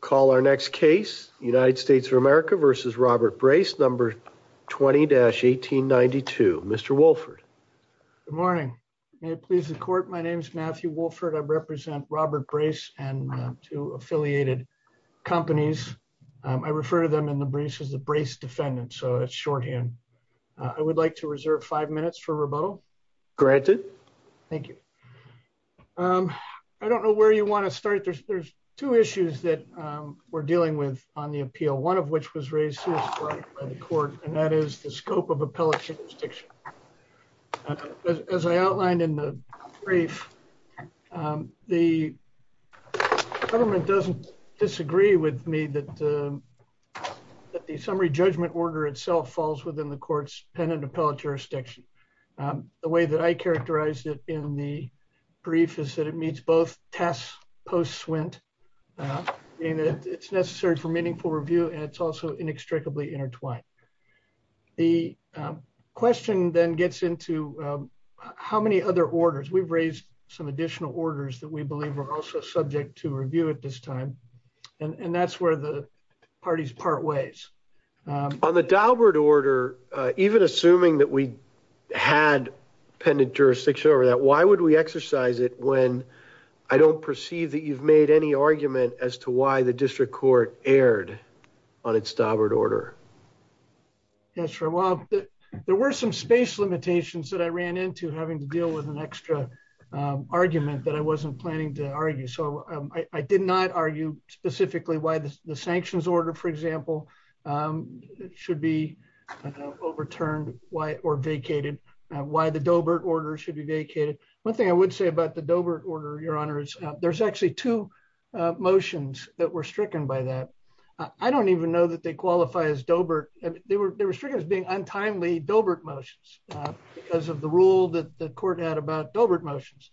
call our next case United States of America versus Robert Brace number 20-1892 Mr. Wolford good morning may it please the court my name is Matthew Wolford I represent Robert Brace and two affiliated companies I refer to them in the briefs as the Brace defendant so it's shorthand I would like to reserve five minutes for rebuttal granted thank you um I don't know where you want to start there's two issues that we're dealing with on the appeal one of which was raised by the court and that is the scope of appellate jurisdiction as I outlined in the brief the government doesn't disagree with me that that the summary judgment order itself falls within the court's pen and appellate jurisdiction the way that I characterized it in the brief is it meets both tasks post swint and it's necessary for meaningful review and it's also inextricably intertwined the question then gets into how many other orders we've raised some additional orders that we believe are also subject to review at this time and and that's where the parties part ways on the Daubert order even assuming that we had pendent jurisdiction over that why would we exercise it when I don't perceive that you've made any argument as to why the district court erred on its Daubert order yes sir well there were some space limitations that I ran into having to deal with an extra argument that I wasn't planning to argue so I did not argue specifically why the sanctions order for example should be overturned why or vacated why the Daubert order should be I would say about the Daubert order your honors there's actually two motions that were stricken by that I don't even know that they qualify as Daubert they were they were stricken as being untimely Daubert motions because of the rule that the court had about Daubert motions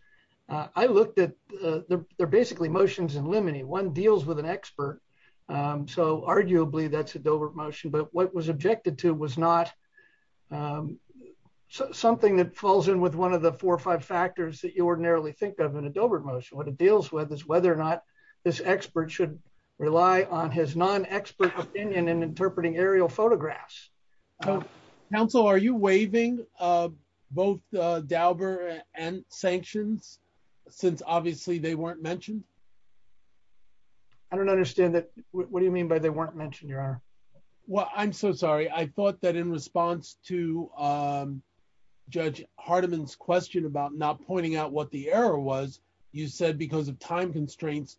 I looked at they're basically motions in limine one deals with an expert so arguably that's a Daubert motion but what was objected to was not something that falls in with one of the four or five factors that you think of in a Daubert motion what it deals with is whether or not this expert should rely on his non-expert opinion in interpreting aerial photographs council are you waiving both Daubert and sanctions since obviously they weren't mentioned I don't understand that what do you mean by they weren't mentioned your honor well I'm so sorry I thought that in response to judge Hardiman's question about not pointing out what the error was you said because of time constraints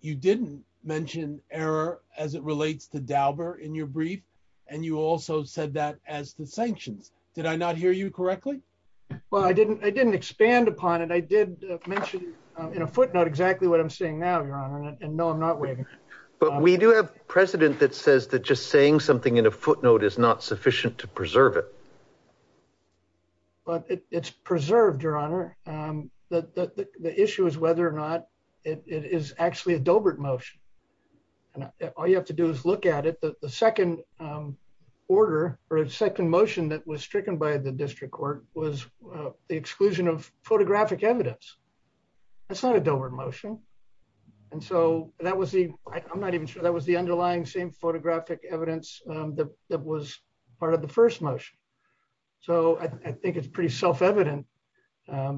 you didn't mention error as it relates to Daubert in your brief and you also said that as the sanctions did I not hear you correctly well I didn't I didn't expand upon it I did mention in a footnote exactly what I'm saying now your honor and no I'm not waiting but we do have precedent that says that just saying something in a footnote is not sufficient to preserve it but it's preserved your honor the issue is whether or not it is actually a Daubert motion and all you have to do is look at it the second order or a second motion that was stricken by the district court was the exclusion of photographic evidence that's not a Daubert motion and so that was the I'm not even sure that was the underlying same photographic evidence that was part of the first motion so I think it's pretty self-evident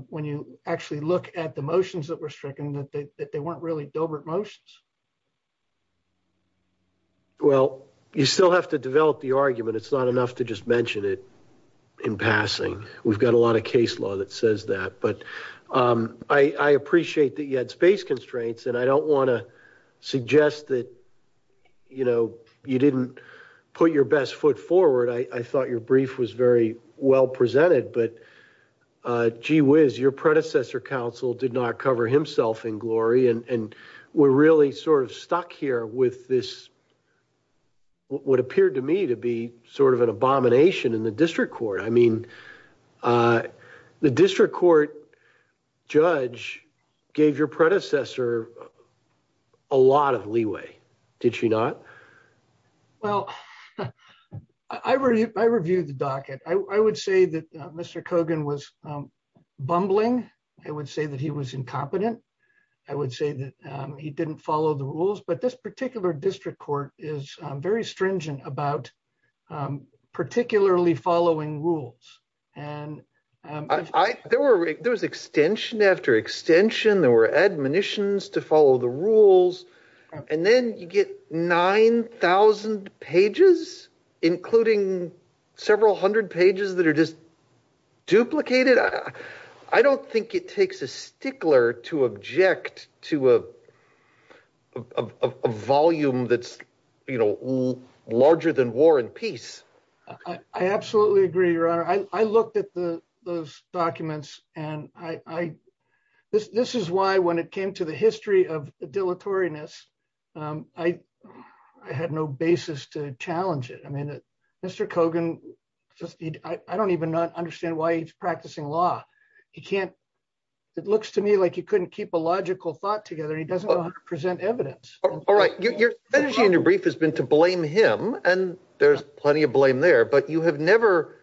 when you actually look at the motions that were stricken that they weren't really Daubert motions well you still have to develop the argument it's not enough to just mention it in passing we've got a lot of case law that says that but I appreciate that you had space and I don't want to suggest that you know you didn't put your best foot forward I thought your brief was very well presented but uh gee whiz your predecessor counsel did not cover himself in glory and and we're really sort of stuck here with this what appeared to me to be sort of an abomination in the district court I mean uh the district court judge gave your predecessor a lot of leeway did she not well I reviewed the docket I would say that Mr. Kogan was bumbling I would say that he was incompetent I would say that he didn't follow the rules but this particular district court is very stringent about particularly following rules and I there were there was extension after extension there were admonitions to follow the rules and then you get 9 000 pages including several hundred pages that are just duplicated I don't think it takes a stickler to object to a volume that's you know larger than war and peace I absolutely agree your honor I looked at the those documents and I this this is why when it came to the history of dilatoriness I had no basis to challenge it I mean Mr. Kogan just I don't even not understand why he's together he doesn't want to present evidence all right your strategy in your brief has been to blame him and there's plenty of blame there but you have never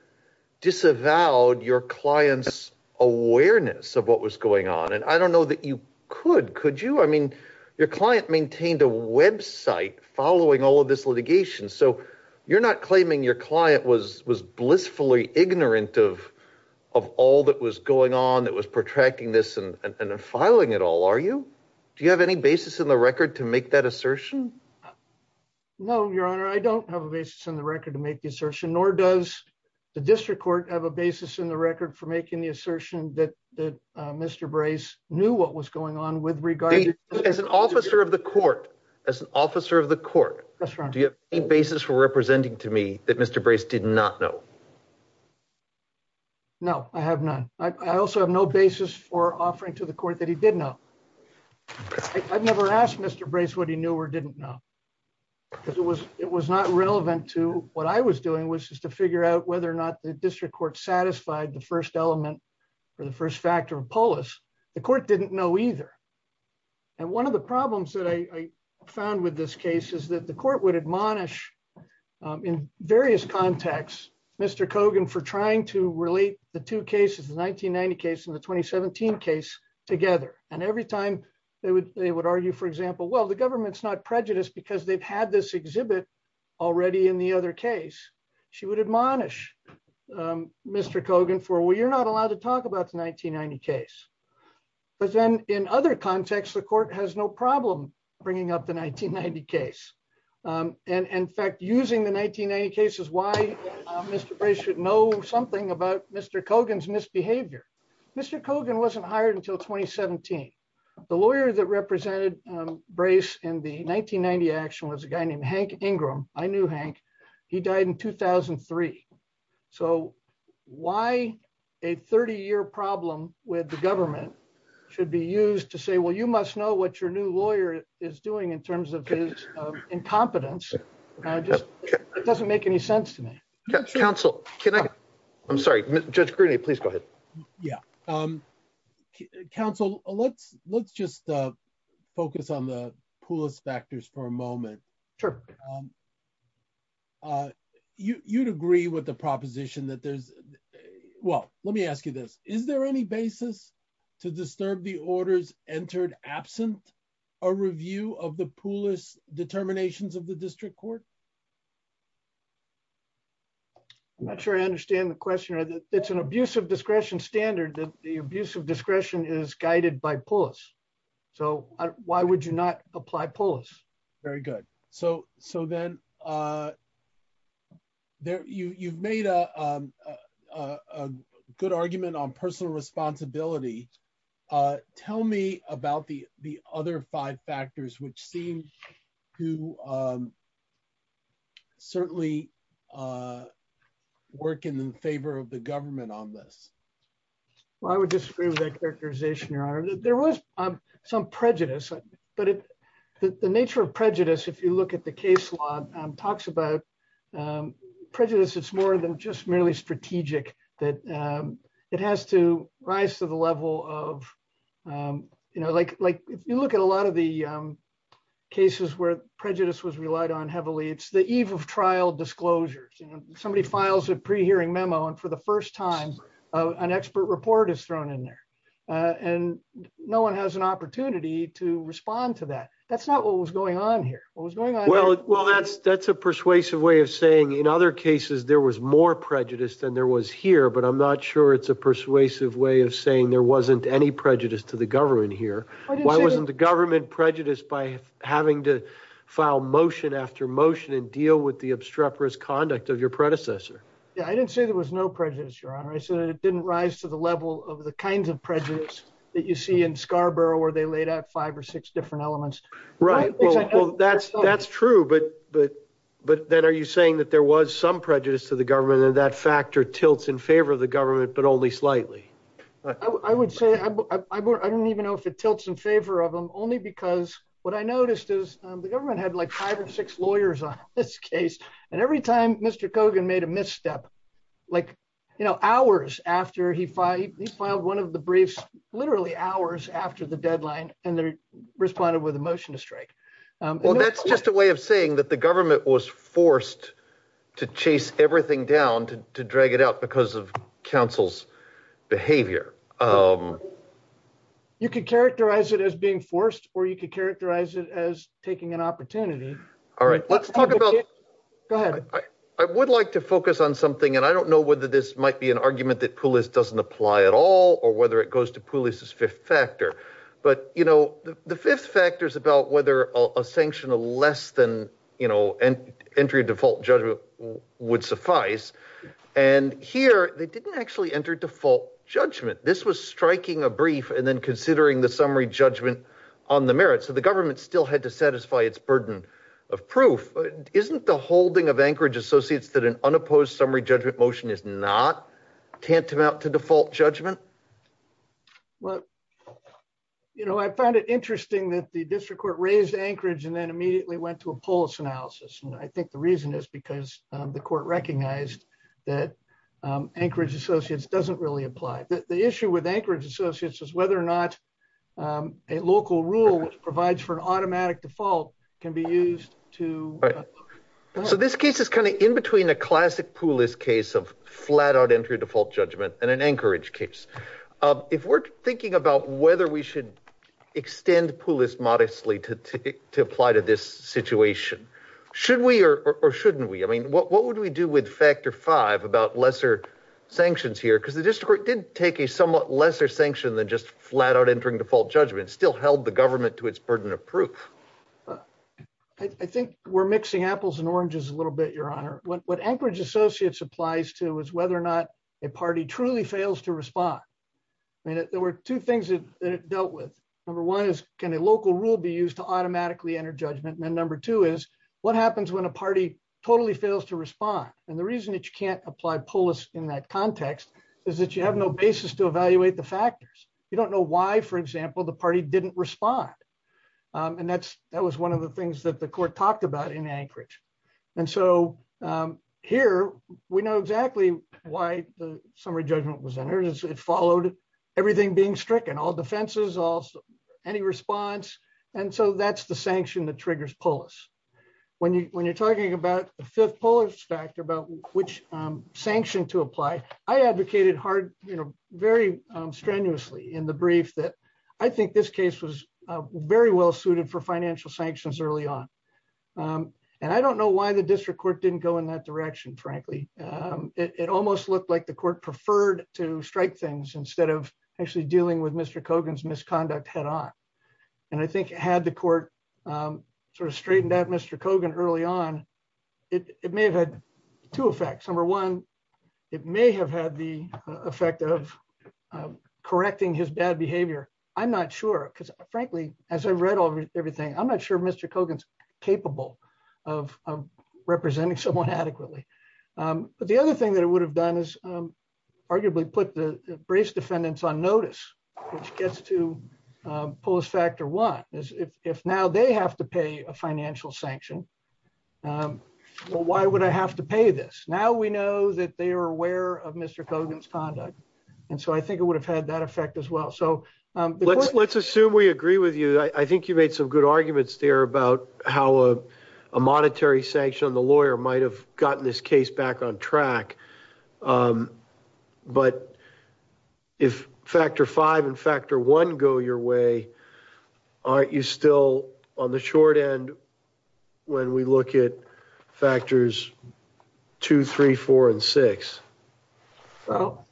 disavowed your client's awareness of what was going on and I don't know that you could could you I mean your client maintained a website following all of this litigation so you're not claiming your client was was blissfully ignorant of of all that was going on that was protracting this and and filing it all are you do you have any basis in the record to make that assertion no your honor I don't have a basis in the record to make the assertion nor does the district court have a basis in the record for making the assertion that that Mr. Brace knew what was going on with regard as an officer of the court as an officer of the court that's right do you have any basis for representing to me that Mr. Brace did not know no I have none I also have no basis for offering to the court that he did know I've never asked Mr. Brace what he knew or didn't know because it was it was not relevant to what I was doing was just to figure out whether or not the district court satisfied the first element or the first factor of polis the court didn't know either and one of the problems that I found with this case is that the court would admonish in various contexts Mr. Kogan for trying to relate the two cases the 1990 case and the 2017 case together and every time they would they would argue for example well the government's not prejudiced because they've had this exhibit already in the other case she would admonish Mr. Kogan for well you're not allowed to talk about the 1990 case but then in other contexts the court has no problem bringing up the 1990 case and in fact using the 1990 cases why Mr. Brace should know something about Mr. Kogan's misbehavior Mr. Kogan wasn't hired until 2017 the lawyer that represented Brace in the 1990 action was a guy in 2003 so why a 30-year problem with the government should be used to say well you must know what your new lawyer is doing in terms of his incompetence it just doesn't make any sense to me council can i i'm sorry judge greeny please go ahead yeah um council let's let's just uh you you'd agree with the proposition that there's well let me ask you this is there any basis to disturb the orders entered absent a review of the poolis determinations of the district court i'm not sure i understand the question or that it's an abuse of discretion standard that the abuse of discretion is guided by polis so why would you not apply polis very good so so then uh there you you've made a um a good argument on personal responsibility uh tell me about the the other five factors which seem to um certainly uh work in the favor of the government on this well i would disagree with that characterization your honor there was um some prejudice but it the nature of prejudice if you look at the case law talks about um prejudice it's more than just merely strategic that um it has to rise to the level of um you know like like if you look at a lot of the um cases where prejudice was relied on heavily it's the eve of trial disclosures you know somebody files a pre-hearing memo and for the first time an expert report is thrown in there and no one has an opportunity to respond to that that's not what was going on here what was going on well well that's that's a persuasive way of saying in other cases there was more prejudice than there was here but i'm not sure it's a persuasive way of saying there wasn't any prejudice to the government here why wasn't the government prejudiced by having to file motion after motion and deal with the obstreperous conduct of your predecessor yeah i didn't say there was no prejudice your honor i said it didn't rise to the level of the kinds of prejudice that you see in scarborough where they laid out five or six different elements right well that's that's true but but but then are you saying that there was some prejudice to the government and that factor tilts in favor of the government but only slightly i would say i don't even know if it tilts in favor of them only because what i noticed is the government had like five or six lawyers on this case and every time mr cogan made a misstep like you know hours after he filed he filed one of the briefs literally hours after the deadline and they responded with a motion to strike well that's just a way of saying that the government was forced to chase everything down to drag it out because of council's behavior um you could characterize it as being forced or you could characterize it as taking an opportunity all i would like to focus on something and i don't know whether this might be an argument that pulis doesn't apply at all or whether it goes to pulis's fifth factor but you know the fifth factor is about whether a sanction of less than you know and entry default judgment would suffice and here they didn't actually enter default judgment this was striking a brief and then considering the summary judgment on the merit so the government still had to satisfy its burden of proof isn't the holding of anchorage associates that an unopposed summary judgment motion is not tantamount to default judgment well you know i found it interesting that the district court raised anchorage and then immediately went to a pulis analysis and i think the reason is because the court recognized that anchorage associates doesn't really apply the issue with anchorage all right so this case is kind of in between a classic pulis case of flat out entry default judgment and an anchorage case um if we're thinking about whether we should extend pulis modestly to to apply to this situation should we or or shouldn't we i mean what what would we do with factor five about lesser sanctions here because the district court did take a somewhat lesser sanction than just flat out entering default judgment still held the government to its burden of proof i think we're mixing apples and oranges a little bit your honor what what anchorage associates applies to is whether or not a party truly fails to respond i mean there were two things that it dealt with number one is can a local rule be used to automatically enter judgment and number two is what happens when a party totally fails to respond and the reason that you can't apply pulis in that context is that you have no basis to evaluate the factors you don't know why for example the party didn't respond and that's that was one of the things that the court talked about in anchorage and so here we know exactly why the summary judgment was entered it followed everything being stricken all defenses all any response and so that's the sanction that triggers pulis when you when you're talking about the fifth pulis factor about which sanction to apply i advocated hard you know very strenuously in the brief that i think this case was very well suited for financial sanctions early on and i don't know why the district court didn't go in that direction frankly it almost looked like the court preferred to strike things instead of actually dealing with mr cogan's misconduct head-on and i think it had the court sort of it may have had the effect of correcting his bad behavior i'm not sure because frankly as i read all everything i'm not sure mr cogan's capable of representing someone adequately but the other thing that it would have done is arguably put the brace defendants on notice which gets to pulis factor one is if now they have to pay a financial sanction well why would i have to pay this now we know that they are aware of mr cogan's conduct and so i think it would have had that effect as well so um let's let's assume we agree with you i think you made some good arguments there about how a monetary sanction on the lawyer might have gotten this case back on track um but if factor five and factor one go your way aren't you still on the short end when we look at factors two three four and six well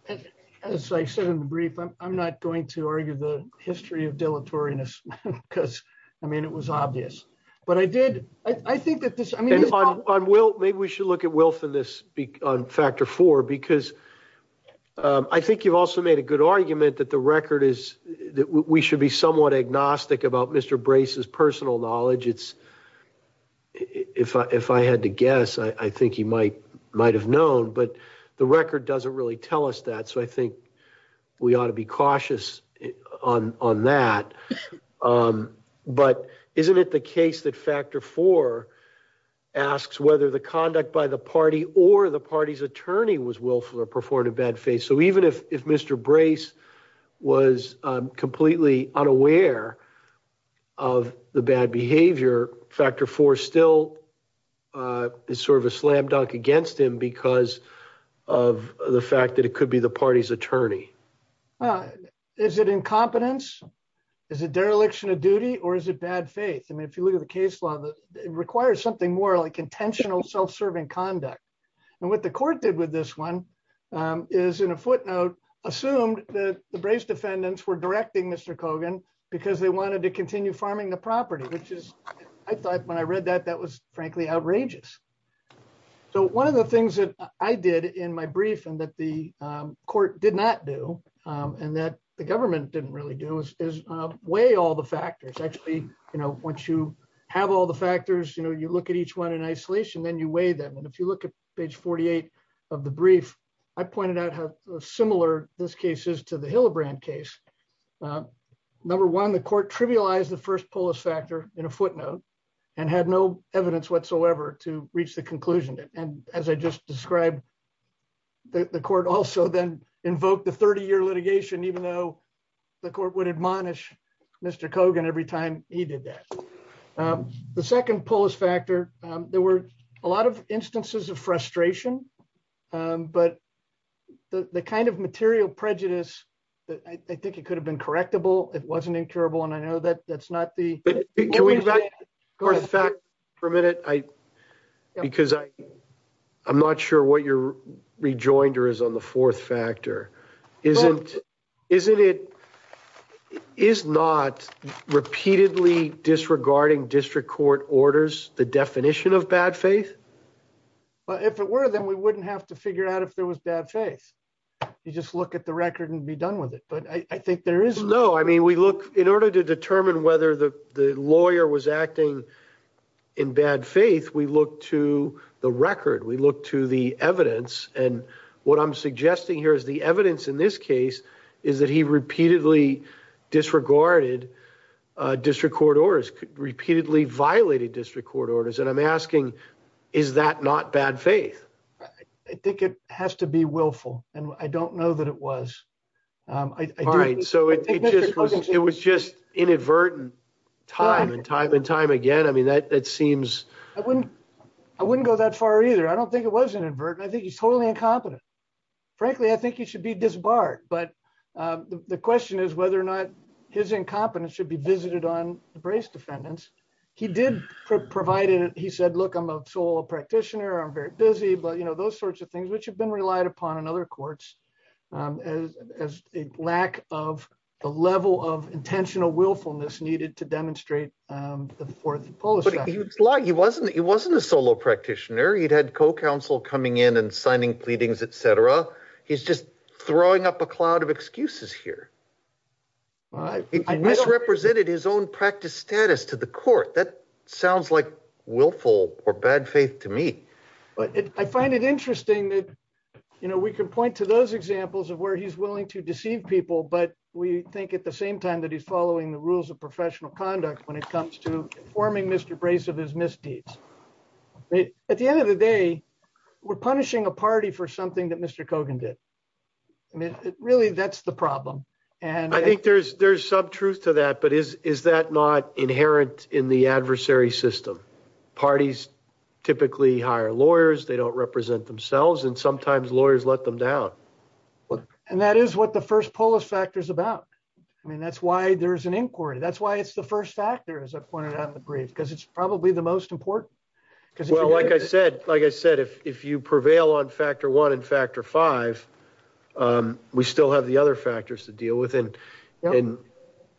as i said in the brief i'm not going to argue the history of deleteriousness because i mean it was obvious but i did i i think that this i mean on will maybe we should look at willfulness on factor four because i think you've also made a good argument that the record is that we should be somewhat agnostic about mr brace's personal knowledge it's if i if i had to guess i i think he might might have known but the record doesn't really tell us that so i think we ought to be cautious on on that um but isn't it the case that factor four asks whether the conduct by the party or the party's attorney was willful or factor four still uh is sort of a slam dunk against him because of the fact that it could be the party's attorney uh is it incompetence is it dereliction of duty or is it bad faith i mean if you look at the case law that it requires something more like intentional self-serving conduct and what the court did with this one um is in a footnote assumed that the brace defendants were directing mr cogan because they wanted to continue farming the property which is i thought when i read that that was frankly outrageous so one of the things that i did in my brief and that the um court did not do um and that the government didn't really do is weigh all the factors actually you know once you have all the factors you know you look at each one in isolation then you weigh them and if you look at page 48 of the brief i pointed out how similar this case is to the case number one the court trivialized the first polis factor in a footnote and had no evidence whatsoever to reach the conclusion and as i just described the court also then invoked the 30-year litigation even though the court would admonish mr cogan every time he did that um the second polis factor um there were a lot of instances of frustration um but the the kind of material prejudice that i think it could have been correctable it wasn't incurable and i know that that's not the can we go back for a minute i because i i'm not sure what your rejoinder is on the fourth factor isn't isn't it is not repeatedly disregarding district court orders the definition of bad faith well if it were then we wouldn't have to figure out if there was bad faith you just look at the record and be done with it but i i think there is no i mean we look in order to determine whether the the lawyer was acting in bad faith we look to the record we look to the evidence and what i'm suggesting here is the evidence in this case is that he repeatedly disregarded uh district court orders repeatedly violated district court orders and i'm asking is that not bad faith i think it has to be willful and i don't know that it was um all right so it just was it was just inadvertent time and time and time again i mean that that seems i wouldn't i wouldn't go that far either i don't think it was inadvertent i think he's totally incompetent frankly i think he should be disbarred but uh the question is whether or not his incompetence should be visited on the brace defendants he did provide it he said look i'm a solo practitioner i'm very busy but you know those sorts of things which have been relied upon in other courts um as as a lack of the level of intentional willfulness needed to demonstrate um for the polish but he was like he wasn't he wasn't a solo practitioner he'd had co-counsel coming in and signing pleadings etc he's just throwing up a cloud of excuses here all right he misrepresented his own practice status to the court that sounds like willful or bad faith to me but i find it interesting that you know we can point to those examples of where he's willing to deceive people but we think at the same time that he's following the rules of professional conduct when it comes to informing mr brace of his misdeeds at the end of the day we're punishing a party for something that mr cogan did i mean really that's the problem and i think there's there's some truth to that but is is that not inherent in the adversary system parties typically hire lawyers they don't represent themselves and sometimes lawyers let them down and that is what the first polis factor is about i mean that's why there's an inquiry that's why it's the first factor as i pointed out in the brief because it's probably the most important because well like i said like i said if if you um we still have the other factors to deal with and and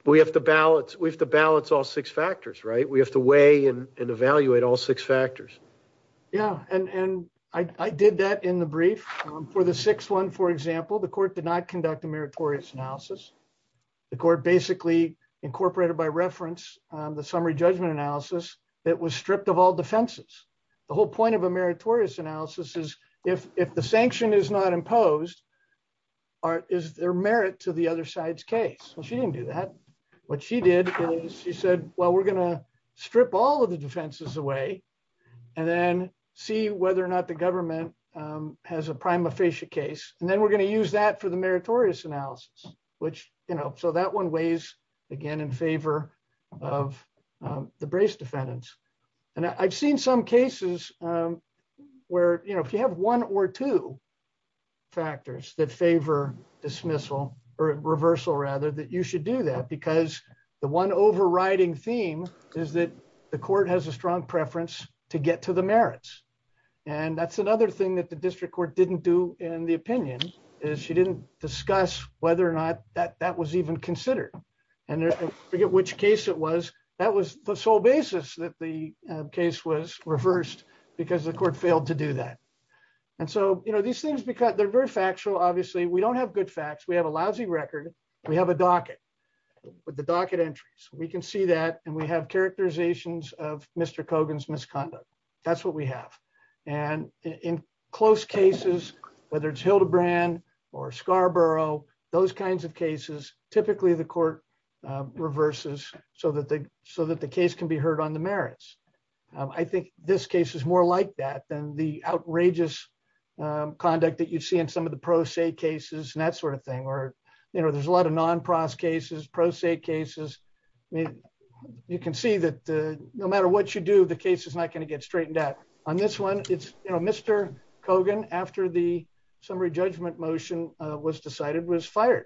we have to balance we have to balance all six factors right we have to weigh and evaluate all six factors yeah and and i i did that in the brief for the sixth one for example the court did not conduct a meritorious analysis the court basically incorporated by reference um the summary judgment analysis that was stripped of all defenses the whole point of a meritorious analysis is if if the sanction is not imposed or is there merit to the other side's case well she didn't do that what she did is she said well we're gonna strip all of the defenses away and then see whether or not the government um has a prima facie case and then we're going to use that for the meritorious analysis which you know so that one weighs again in favor of the brace defendants and i've seen some cases um where you know if you have one or two factors that favor dismissal or reversal rather that you should do that because the one overriding theme is that the court has a strong preference to get to the merits and that's another thing that the district court didn't do in the opinion is she didn't discuss whether or not that that was even considered and i forget which case it was that was the sole basis that the case was reversed because the court failed to do that and so you know these things because they're very factual obviously we don't have good facts we have a lousy record we have a docket with the docket entries we can see that and we have characterizations of mr cogan's misconduct that's what we have and in close cases whether it's hildebrand or scarborough those kinds of cases typically the court reverses so that the so that the case can be heard on the merits i think this case is more like that than the outrageous conduct that you see in some of the pro se cases and that sort of thing or you know there's a lot of non-pros cases pro se cases i mean you can see that no matter what you do the case is not going to get straightened out on this one it's you know mr cogan after the summary judgment motion was decided was fired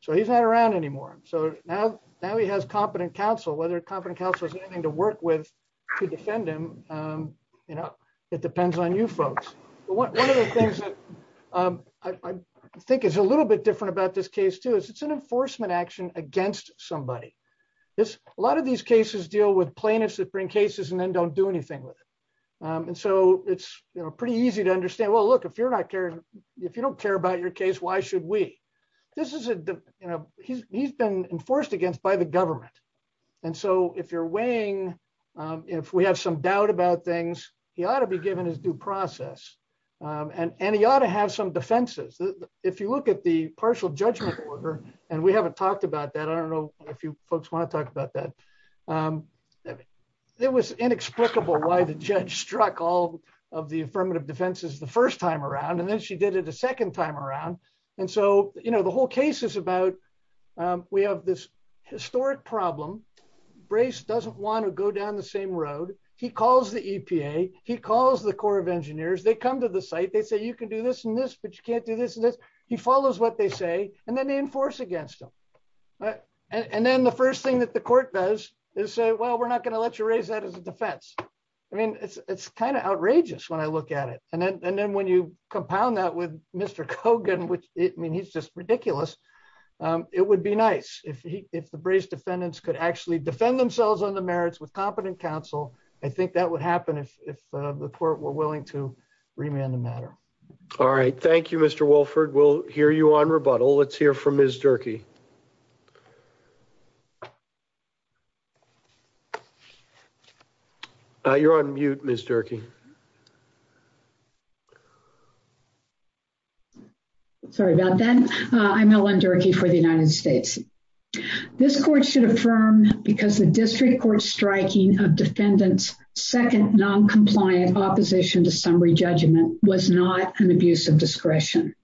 so he's not around anymore so now now he has competent counsel whether competent counsel has anything to work with to defend him um you know it depends on you folks but one of the things that um i i think is a little bit different about this case too is it's an enforcement action against somebody this a lot of these cases deal with plaintiffs that bring cases and then don't do anything with it um and so it's you know pretty easy to understand well look if you're not caring if you don't care about your case why should we this is a you know he's he's been enforced against by the government and so if you're weighing um if we have some doubt about things he ought to be given his due process um and and he ought to have some defenses if you look at the i don't know if you folks want to talk about that um it was inexplicable why the judge struck all of the affirmative defenses the first time around and then she did it a second time around and so you know the whole case is about um we have this historic problem brace doesn't want to go down the same road he calls the epa he calls the corps of engineers they come to the site they say you can do this and this but you can't do this and this he follows what they say and then enforce against him right and then the first thing that the court does is say well we're not going to let you raise that as a defense i mean it's it's kind of outrageous when i look at it and then and then when you compound that with mr cogan which i mean he's just ridiculous um it would be nice if he if the brace defendants could actually defend themselves on the merits with competent counsel i think that would happen if if the court were willing to remand the matter all right thank you mr wolford we'll hear you on rebuttal let's hear from ms durkee uh you're on mute ms durkee sorry about that i'm ellen durkee for the united states this court should affirm because the district court striking of defendants second non-compliant opposition to summary judgment was not an abuse of discretion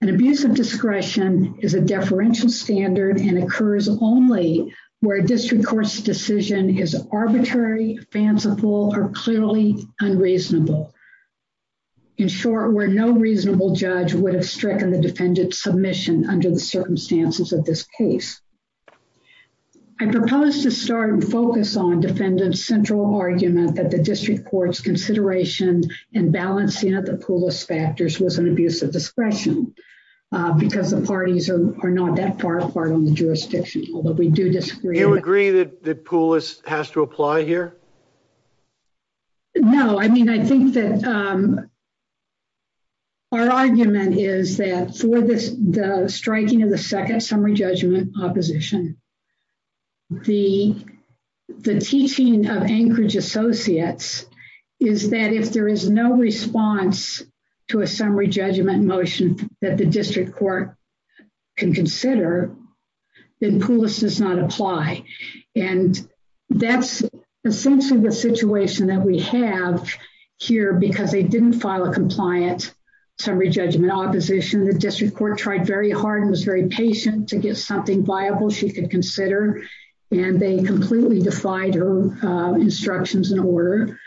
an abuse of discretion is a deferential standard and occurs only where a district court's decision is arbitrary fanciful or clearly unreasonable in short where no reasonable judge would have stricken the defendant's submission under the circumstances of this case i propose to start and focus on defendant's central argument that the district court's consideration and balancing of the poolist factors was an abuse of discretion because the parties are not that far apart on the jurisdiction although we do disagree you agree that the poolist has to apply here no i mean i think that um our argument is that for this the striking of the second summary judgment opposition the the teaching of anchorage associates is that if there is no response to a summary judgment motion that the district court can consider then poolist does not apply and that's essentially the situation that we have here because they didn't file a compliant summary judgment opposition the district court tried very hard and was very patient to get something viable she could consider and they completely defied her instructions in order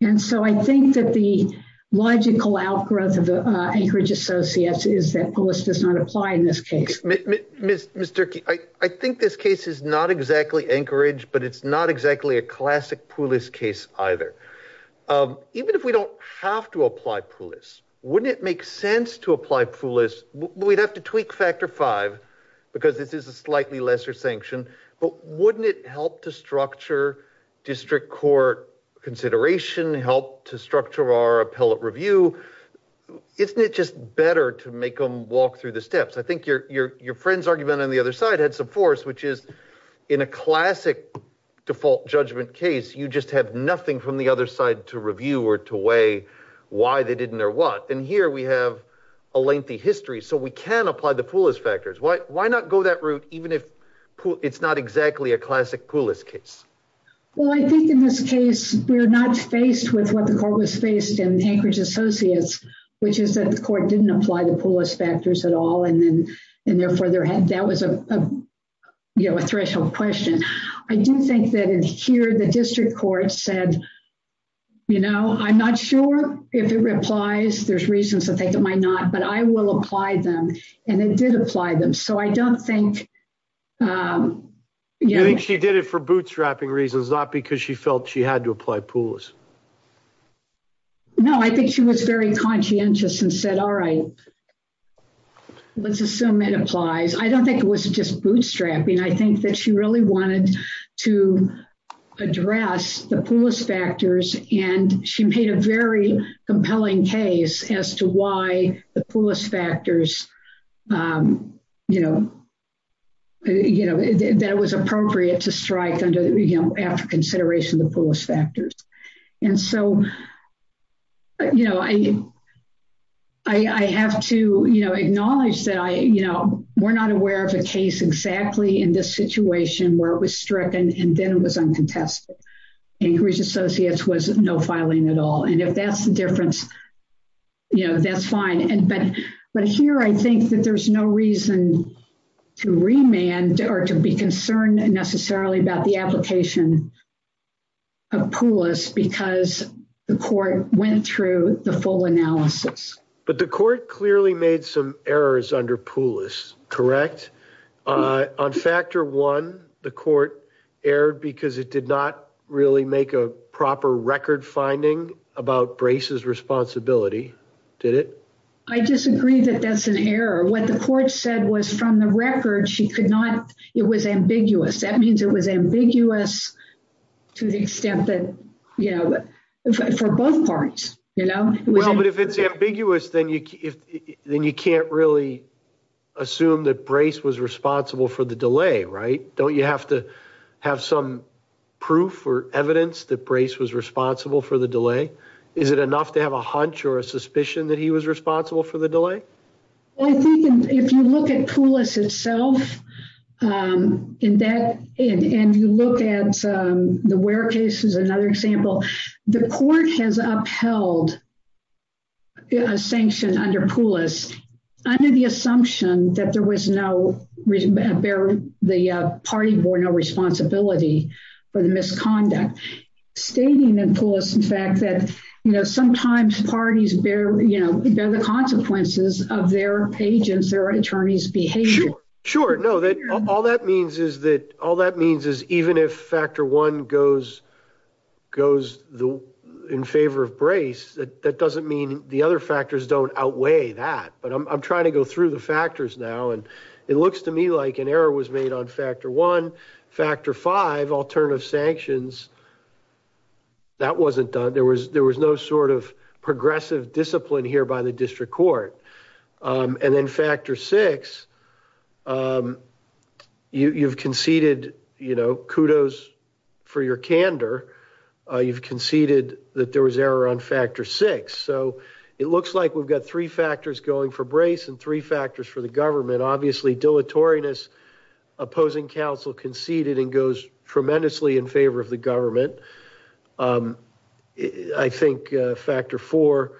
and so i think that the logical outgrowth of the anchorage associates is that polis does not apply in this case mr i think this case is not exactly anchorage but it's not exactly a classic police case either um even if we don't have to apply police wouldn't it make sense to apply poolist we'd have to tweak factor five because this is a slightly lesser sanction but wouldn't it help to structure district court consideration help to structure our appellate review isn't it just better to make them walk through the steps i think your your friend's argument on the other side had some force which is in a classic default judgment case you just have nothing from the other side to review or to weigh why they didn't or what and here we have a lengthy history so we can apply the poolist factors why why not go that route even if it's not exactly a classic poolist case well i think in this case we're not faced with what the court was faced in anchorage associates which is that the court didn't apply the poolist factors at all and then and therefore there had that was a you know a threshold question i do think that in here the district court said you know i'm not sure if it replies there's reasons to think it might not but i will apply them and it did apply them so i don't think um you think she did it for bootstrapping reasons not because she felt she had to apply pools no i think she was very conscientious and said all right let's assume it applies i don't think it was just bootstrapping i think that she really wanted to address the poorest factors and she made a very compelling case as to why the poorest factors um you know you know that it was appropriate to strike under you know after i i have to you know acknowledge that i you know we're not aware of a case exactly in this situation where it was stricken and then it was uncontested anchorage associates was no filing at all and if that's the difference you know that's fine and but but here i think that there's no reason to remand or to be concerned necessarily about the application of poulos because the court went through the full analysis but the court clearly made some errors under poulos correct uh on factor one the court erred because it did not really make a proper record finding about brace's responsibility did it i disagree that that's an error what the court said was from the record she could not it was ambiguous that means it was ambiguous to the extent that you know for both parties you know well but if it's ambiguous then you then you can't really assume that brace was responsible for the delay right don't you have to have some proof or evidence that brace was responsible for the delay is it enough to have a hunch or a suspicion that he was responsible for the delay i think if you look at poulos itself um in that and you look at um the where case is another example the court has upheld a sanction under poulos under the assumption that there was no reason bear the party bore no responsibility for the misconduct stating in poulos in fact that you know sometimes parties bear you know they're the consequences of their agents their attorneys behavior sure no that all that means is that all that means is even if factor one goes goes the in favor of brace that that doesn't mean the other factors don't outweigh that but i'm trying to go through the factors now and it looks to me like an error was made on factor one factor five alternative sanctions that wasn't done there was there was no sort of progressive discipline here by the district court and then factor six um you you've conceded you know kudos for your candor uh you've conceded that there was error on factor six so it looks like we've got three factors going for brace and three factors for the government obviously dilatoriness opposing council conceded and goes tremendously in favor of the government um i think factor four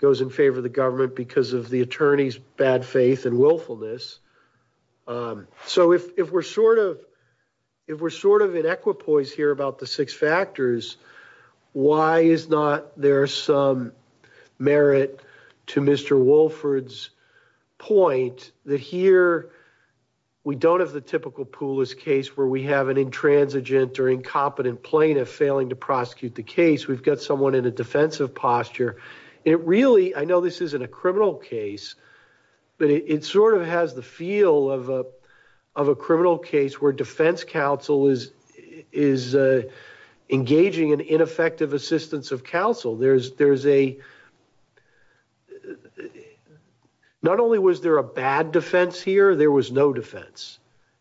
goes in favor of the government because of the attorney's bad faith and willfulness um so if if we're sort of if we're sort of in equipoise here about the six factors why is not there some merit to mr wolford's point that here we don't have the typical poolless case where we have an intransigent or incompetent plaintiff failing to prosecute the case we've got someone in a defensive posture it really i know this isn't a criminal case but it sort of has the feel of a of a criminal case where defense counsel is is uh engaging in ineffective assistance of counsel there's there's a uh not only was there a bad defense here there was no defense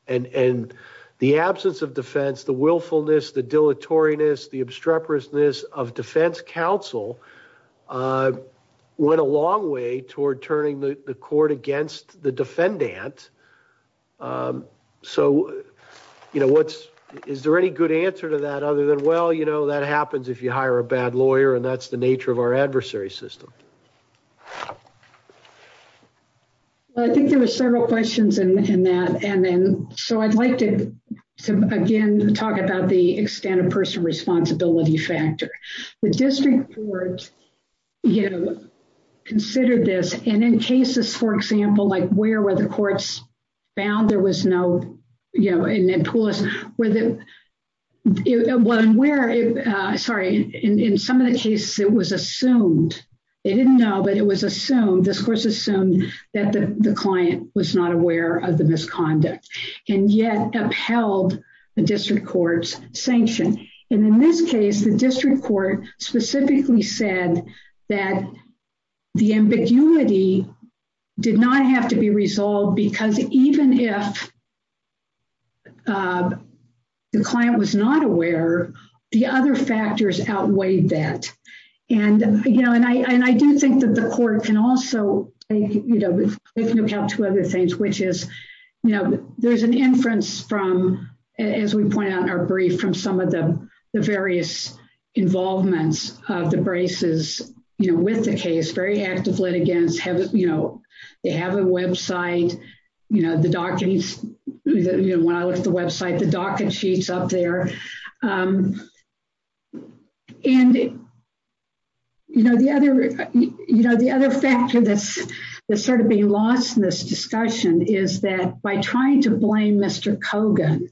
and and the absence of defense the willfulness the dilatoriness the obstreperousness of defense counsel uh went a long way toward turning the court against the defendant um so you know what's is there any good answer to that other than well you know that happens if you hire a bad lawyer and that's the nature of our adversary system i think there were several questions in in that and then so i'd like to again talk about the extent of personal responsibility factor the district boards you know considered this and in cases for example like where were the courts found there was no you know and then pull us where the one where uh sorry in in some of the cases it was assumed they didn't know but it was assumed this course assumed that the the client was not aware of the misconduct and yet upheld the district court's sanction and in this case the district court specifically said that the ambiguity did not have to be resolved because even if uh the client was not aware the other factors outweighed that and you know and i and i do think that the court can also take you know if you look out to other things which is you know there's an inference from as we point out our brief from some of the the various involvements of the braces you know with the case very active litigants have you know they have a website you know the docket is you know when i look at the website the docket sheets up there um and you know the other you know the other factor that's that's sort of being lost in this discussion is that by trying to blame mr cogan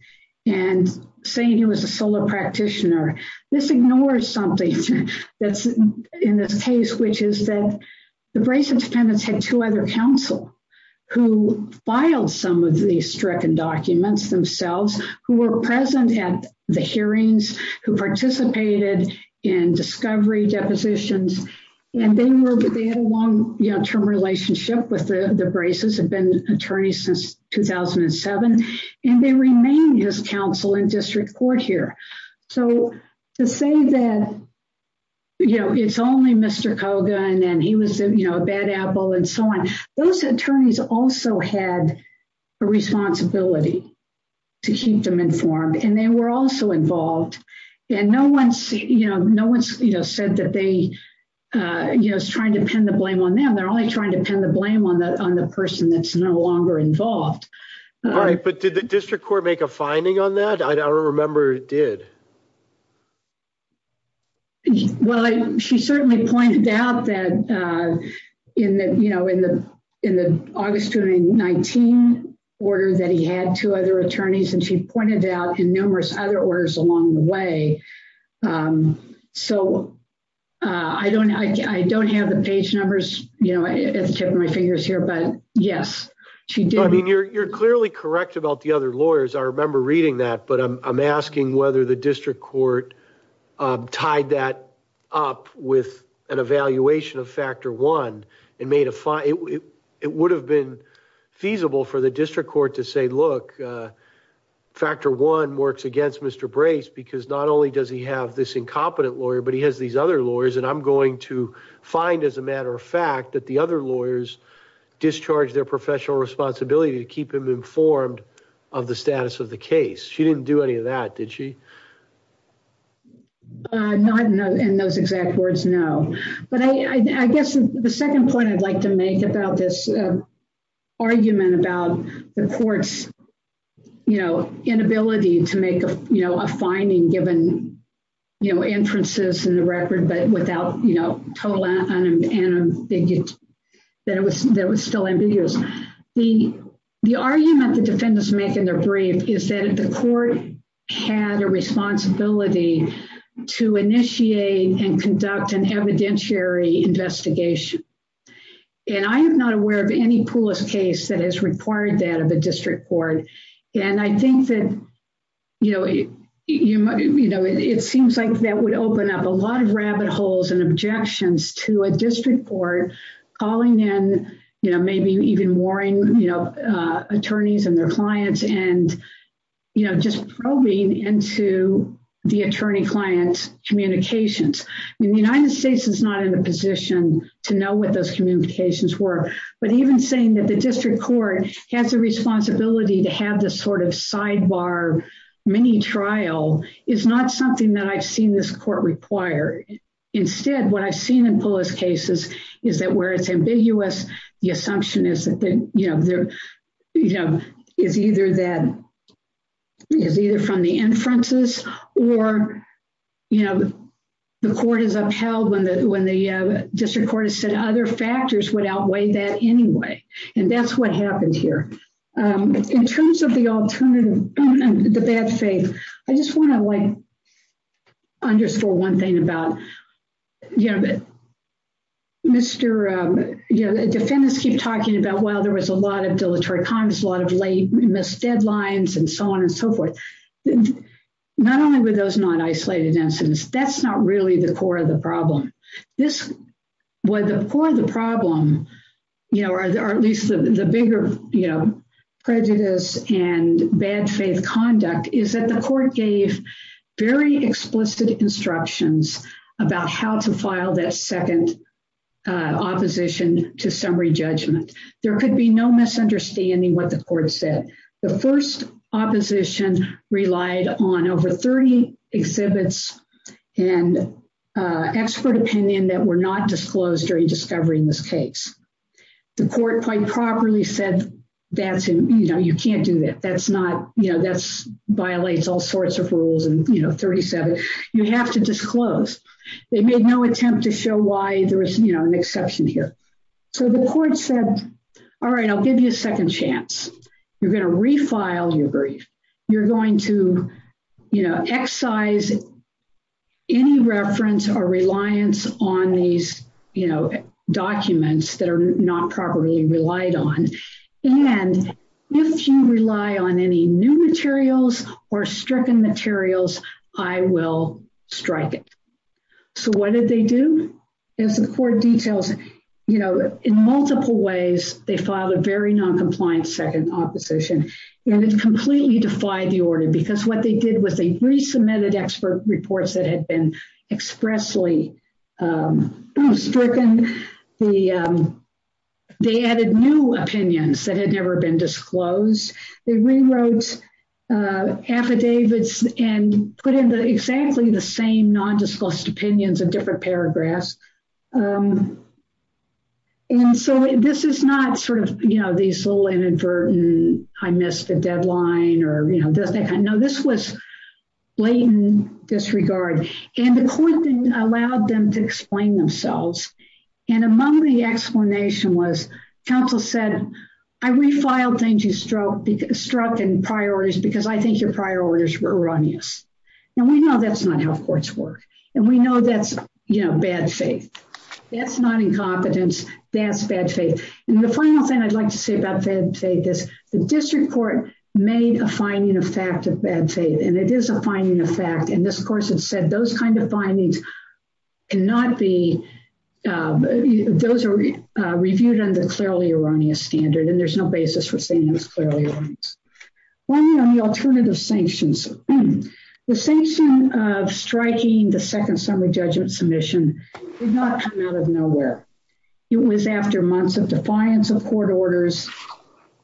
and saying he was a solar practitioner this ignores something that's in this case which is that the brace independence had two other counsel who filed some of these stricken documents themselves who were present at the hearings who participated in discovery depositions and they were they had a long you know term relationship with the braces have been attorneys since 2007 and they remain his counsel in district court here so to say that you know it's only mr cogan and he was you know a bad apple and so on those attorneys also had a responsibility to keep them informed and they were also involved and no one's you know no one's you know said that they uh you know is trying to pin the blame on them they're only trying to blame on the on the person that's no longer involved all right but did the district court make a finding on that i don't remember it did well she certainly pointed out that uh in the you know in the in the august 2019 order that he had two other attorneys and she pointed out in numerous other orders along the way um so uh i don't i don't have the page numbers you know at the tip of my fingers here but yes she did i mean you're you're clearly correct about the other lawyers i remember reading that but i'm asking whether the district court tied that up with an evaluation of factor one and made a fine it would have been feasible for the district court to say look uh factor one works against mr brace because not only does he have this incompetent lawyer but he has these other lawyers and i'm going to find as a matter of fact that the other lawyers discharge their professional responsibility to keep him informed of the status of the case she didn't do any of that did she uh not in those exact words no but i i guess the second point i'd like to make about this argument about the court's you know inability to make a you know a finding given you know inferences in the record but without you know total and they get that it was that was still ambiguous the the argument the defendants make in their brief is that the court had a responsibility to initiate and conduct an evidentiary investigation and i am not aware of any poolest case that has required that of a district court and i think that you know you know it seems like that would open up a lot of rabbit holes and objections to a district court calling in you know maybe even warring you know attorneys and their clients and you know just probing into the attorney client's communications and the united states is not in a position to know what those communications were but even saying that the district court has a responsibility to have this sort of sidebar mini trial is not something that i've seen this court require instead what i've seen in police cases is that where it's ambiguous the assumption is that you know there you know is either that is either from the inferences or you know the court is upheld when the when the district court has said other factors would outweigh that anyway and that's what happened here in terms of the alternative the bad faith i just want to like underscore one thing about you know that mr um you know the defendants keep talking about well there was a lot of deleterious a lot of late missed deadlines and so on and so forth not only were those not isolated incidents that's not really the core of the problem this was the core of the problem you know or at least the bigger you know prejudice and bad faith conduct is that the court gave very explicit instructions about how to file that second uh opposition to summary judgment there could be no misunderstanding what the court said the first opposition relied on over 30 exhibits and uh expert opinion that were not disclosed during discovery in this case the court quite properly said that's him you know you can't do that that's not you know that's violates all sorts of rules and you know 37 you have to disclose they made no attempt to show why there is you know an exception here so the court said all right i'll give you a second chance you're going to refile your brief you're going to you know excise any reference or reliance on these you know documents that are not properly relied on and if you rely on any new materials or stricken materials i will strike it so what did they do is the court details you know in multiple ways they filed a very non-compliant second opposition and it completely defied the order because what they did was they resubmitted expert reports that had been expressly um stricken the they added new opinions that had never been disclosed they rewrote uh affidavits and put in the exactly the same non-disclosed opinions of different paragraphs um and so this is not sort of you know these little inadvertent i missed the deadline or you know does that kind of no this was blatant disregard and the court didn't allow them to explain themselves and among the explanation was counsel said i refiled things you stroke because struck and priorities because i think your prior orders were erroneous and we know that's not how courts work and we know that's you know bad faith that's not incompetence that's bad faith and the final thing i'd like to say about that say this the district court made a finding of fact of bad faith and it is a finding of fact and this course had said those kind of findings cannot be those are reviewed under clearly erroneous standard and there's no basis for saying it clearly one on the alternative sanctions the sanction of striking the second summary judgment submission did not come out of nowhere it was after months of defiance of court orders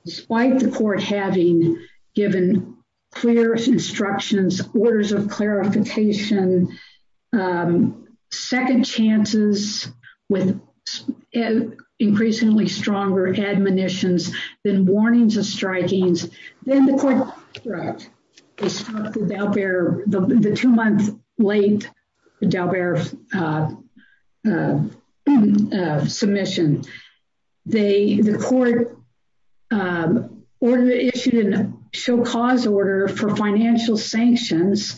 despite the court having given clear instructions orders of clarification um second chances with increasingly stronger admonitions than warnings of strikings then the court struck they struck the dow bearer the two month late dow bearer uh submission they the court um order issued in a show cause order for financial sanctions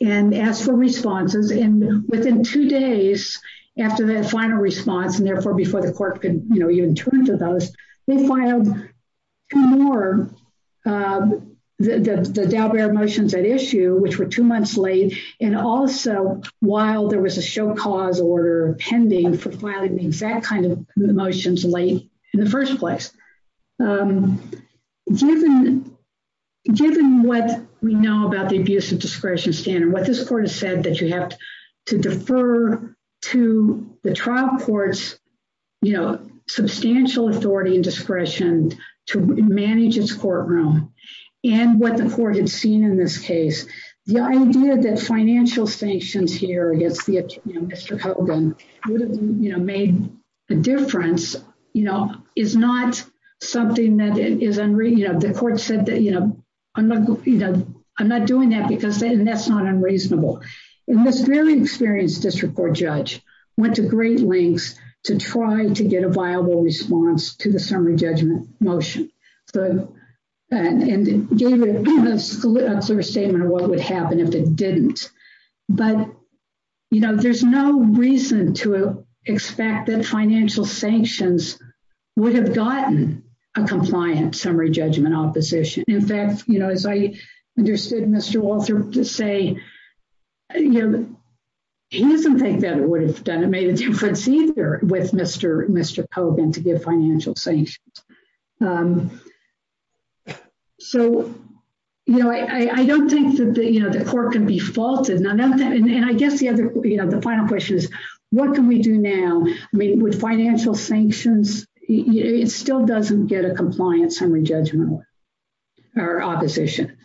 and asked for responses and within two days after that final response and therefore before the court could you know even turn to those they filed two more uh the the dow bearer motions at issue which were two months late and also while there was a show cause order pending for filing the exact kind of motions late in the first place um given given what we know about the abuse of discretion standard what this court has said that you have to defer to the trial courts you know substantial authority and discretion to manage its courtroom and what the court had seen in this case the idea that financial sanctions here against the Mr. Hogan would have you know made a difference you know is not something that is unreal you know the court said that you know i'm not you know i'm not doing that because that's not unreasonable and this fairly experienced district court judge went to great lengths to try to get a viable response to the summary judgment motion so and gave it a clear statement of what would happen if it didn't but you know there's no reason to expect that financial sanctions would have gotten a compliant summary judgment opposition in fact you know as i understood Mr. Walter to say you know he doesn't think that it would have done it made a difference either with Mr. Hogan to give financial sanctions um so you know i i don't think that the you know the court can be faulted and i guess the other you know the final question is what can we do now i mean with financial sanctions it still doesn't get a compliance summary judgment or opposition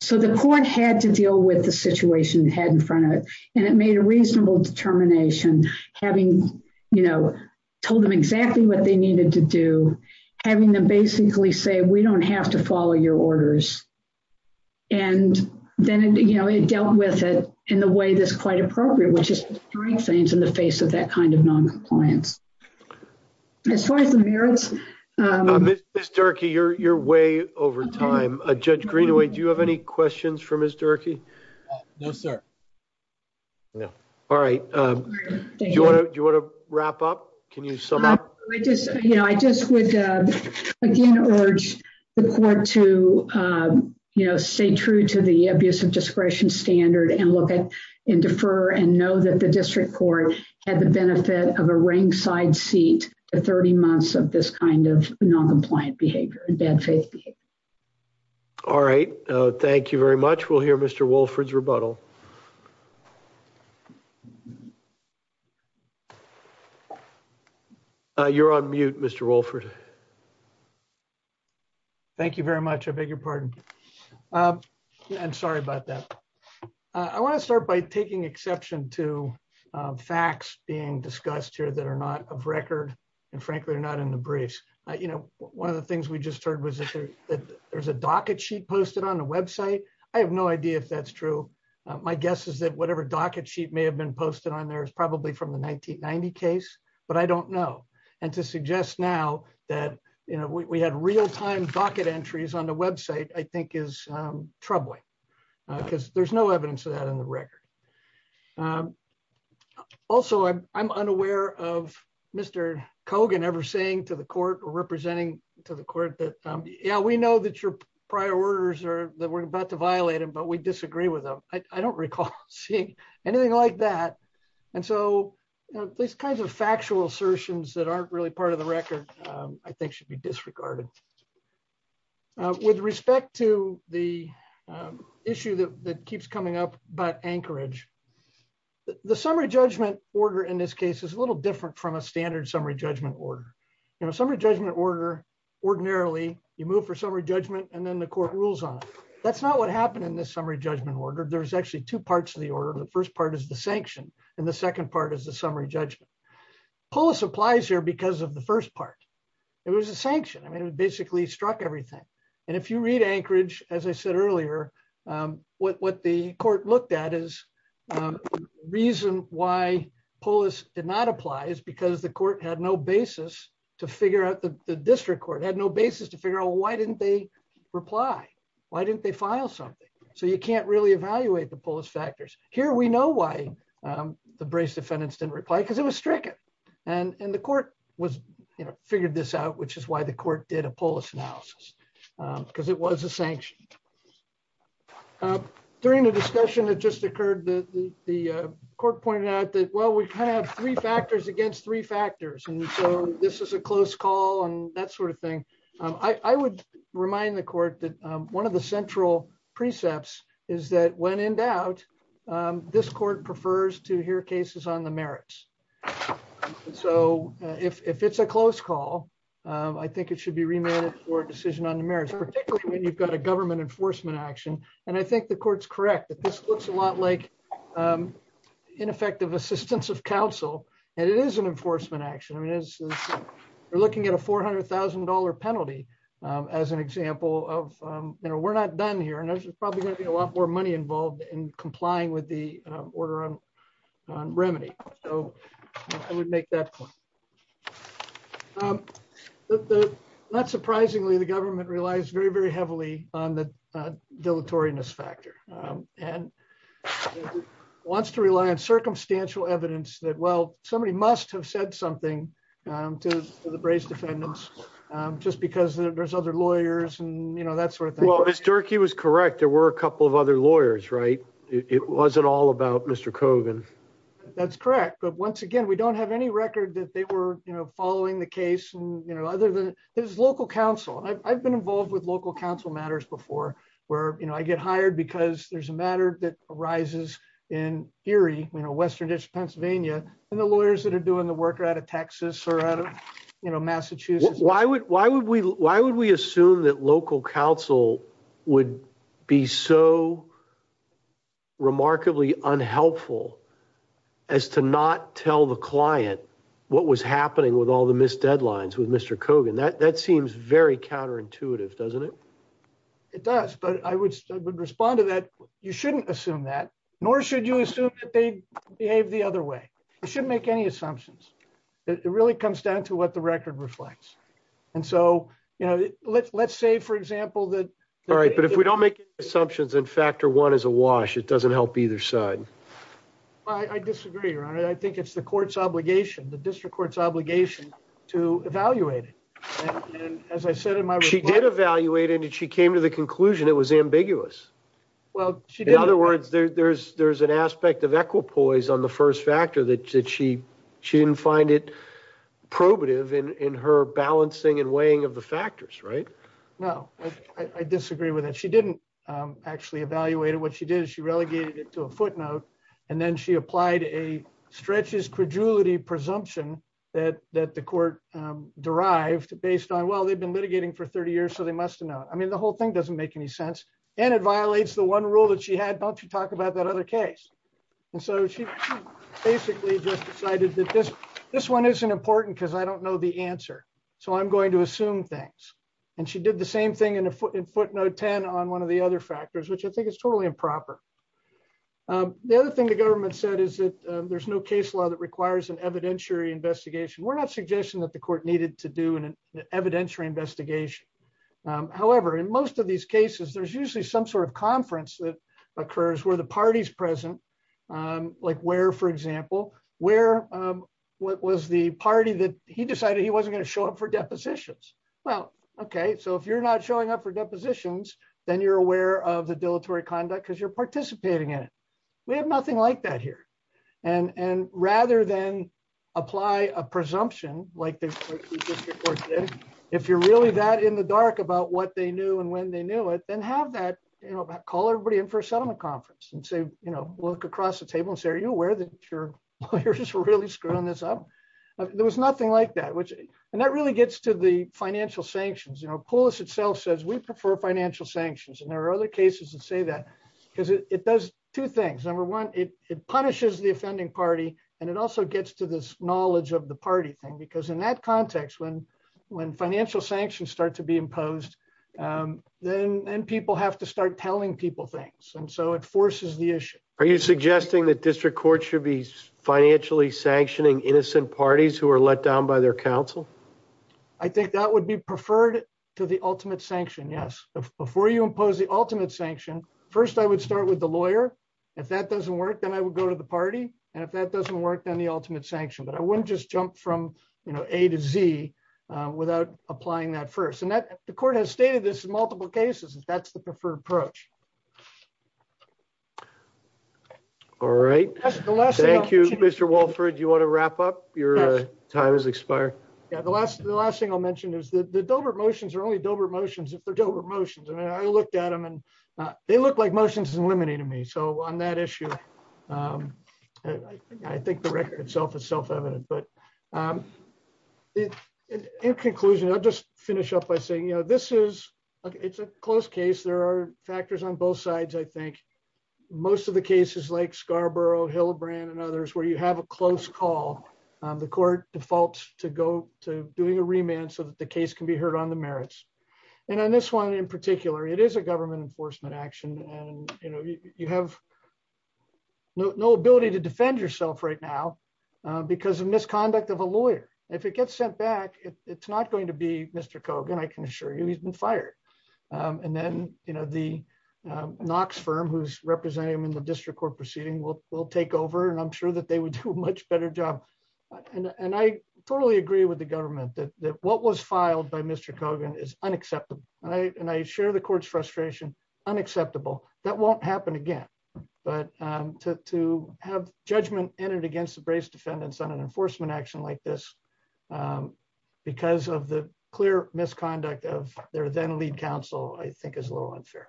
so the court had to deal with the situation it had in front of it and it made a reasonable determination having you know told them exactly what they needed to do having them basically say we don't have to follow your orders and then you know it dealt with it in the way that's quite appropriate which is three things in the face of that kind of non-compliance as far as the merits um miss miss turkey you're you're way over time uh judge greenaway do you have any questions for miss turkey no sir no all right um do you want to do you want to wrap up can you sum up i just you know i just would uh again urge the court to um you know stay true to the abusive discretion standard and look at and defer and know that the district court had the seat for 30 months of this kind of non-compliant behavior and bad faith all right thank you very much we'll hear mr wolford's rebuttal you're on mute mr wolford thank you very much i beg your pardon i'm sorry about that i want to start by taking exception to facts being discussed here that are not of record and frankly they're not in the briefs you know one of the things we just heard was that there's a docket sheet posted on the website i have no idea if that's true my guess is that whatever docket sheet may have been posted on there is probably from the 1990 case but i don't know and to suggest now that you know we had real-time docket entries on the website i think is troubling because there's no evidence of that in the record also i'm unaware of mr cogan ever saying to the court or representing to the court that yeah we know that your prior orders are that we're about to violate them but we disagree with them i don't recall seeing anything like that and so these kinds of factual assertions that aren't really part of the record i think should be disregarded with respect to the issue that order in this case is a little different from a standard summary judgment order you know summary judgment order ordinarily you move for summary judgment and then the court rules on it that's not what happened in this summary judgment order there's actually two parts of the order the first part is the sanction and the second part is the summary judgment polis applies here because of the first part it was a sanction i mean it basically struck everything and if you did not apply is because the court had no basis to figure out the district court had no basis to figure out why didn't they reply why didn't they file something so you can't really evaluate the polis factors here we know why the brace defendants didn't reply because it was stricken and and the court was you know figured this out which is why the court did a polis analysis because it was a well we kind of have three factors against three factors and so this is a close call and that sort of thing i i would remind the court that one of the central precepts is that when in doubt this court prefers to hear cases on the merits so if if it's a close call i think it should be remanded for decision on the merits particularly when you've got a government enforcement action and i think the court's correct that this looks a lot like um ineffective assistance of council and it is an enforcement action i mean as we're looking at a four hundred thousand dollar penalty as an example of um you know we're not done here and there's probably going to be a lot more money involved in complying with the order on remedy so i would make that point um not surprisingly the government relies very very heavily on the dilatoriness factor and wants to rely on circumstantial evidence that well somebody must have said something to the brace defendants just because there's other lawyers and you know that sort of thing well as jerky was correct there were a couple of other lawyers right it wasn't all about mr cogan that's correct but once again we don't have any record that they were you know following the case and you know other than his counsel i've been involved with local council matters before where you know i get hired because there's a matter that arises in fury you know western district pennsylvania and the lawyers that are doing the work are out of texas or out of you know massachusetts why would why would we why would we assume that local council would be so remarkably unhelpful as to not tell the client what was happening with all the missed deadlines with mr cogan that that seems very counterintuitive doesn't it it does but i would respond to that you shouldn't assume that nor should you assume that they behave the other way you shouldn't make any assumptions it really comes down to what the record reflects and so you know let's say for example that all right but if we don't make assumptions in factor one is a wash it doesn't help either side i i disagree ron i think it's the court's obligation the district court's obligation to evaluate it and as i said in my she did evaluate and she came to the conclusion it was ambiguous well she in other words there's there's an aspect of equipoise on the first factor that she she didn't find it probative in in her balancing and weighing of the factors right no i i disagree with that she didn't um actually evaluate what she did she relegated it to a and then she applied a stretches credulity presumption that that the court um derived based on well they've been litigating for 30 years so they must know i mean the whole thing doesn't make any sense and it violates the one rule that she had don't you talk about that other case and so she basically just decided that this this one isn't important because i don't know the answer so i'm going to assume things and she did the same thing in a footnote 10 on one of the other factors which i think is totally improper um the other thing the government said is that there's no case law that requires an evidentiary investigation we're not suggesting that the court needed to do an evidentiary investigation however in most of these cases there's usually some sort of conference that occurs where the party's present um like where for example where um what was the party that he decided he wasn't going to show up for depositions well okay so if you're not showing up for depositions then you're aware of the dilatory conduct because you're participating in it we have nothing like that here and and rather than apply a presumption like this if you're really that in the dark about what they knew and when they knew it then have that you know call everybody in for a settlement conference and say you know look across the table and say are you aware that your lawyers were really screwing this up there was nothing like that which and that really gets to the financial sanctions you know pulas itself says we prefer financial sanctions and there are other cases that say that because it does two things number one it punishes the offending party and it also gets to this knowledge of the party thing because in that context when when financial sanctions start to be imposed um then and people have to start telling people things and so it forces the issue are you suggesting that district courts should be financially sanctioning innocent parties who are let down by their council i think that would be preferred to the ultimate sanction yes before you impose the ultimate sanction first i would start with the lawyer if that doesn't work then i would go to the party and if that doesn't work then the ultimate sanction but i wouldn't just jump from you know a to z without applying that first and that the court has stated this in multiple cases that's the preferred approach all right thank you mr walford you want to wrap up your time has expired yeah the last the last thing i'll mention is the dover motions are only dover motions if they're dover motions i mean i looked at them and they look like motions in limiting me so on that issue um i think the record itself is self-evident but um in conclusion i'll just finish up by saying you know this is okay it's a close case there are factors on both sides i think most of the cases like scarborough hillbrand and others where you have a close call the court defaults to go to doing a remand so that the case can be heard on the merits and on this one in particular it is a government enforcement action and you know you have no ability to defend yourself right now because of misconduct of a um and then you know the um knox firm who's representing them in the district court proceeding will will take over and i'm sure that they would do a much better job and and i totally agree with the government that what was filed by mr cogan is unacceptable and i and i share the court's frustration unacceptable that won't happen again but um to to have judgment entered against the brace defendants on an enforcement action like this um because of the clear misconduct of their lead counsel i think is a little unfair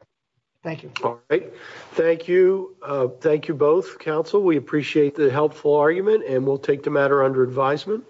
thank you all right thank you uh thank you both counsel we appreciate the helpful argument and we'll take the matter under advisement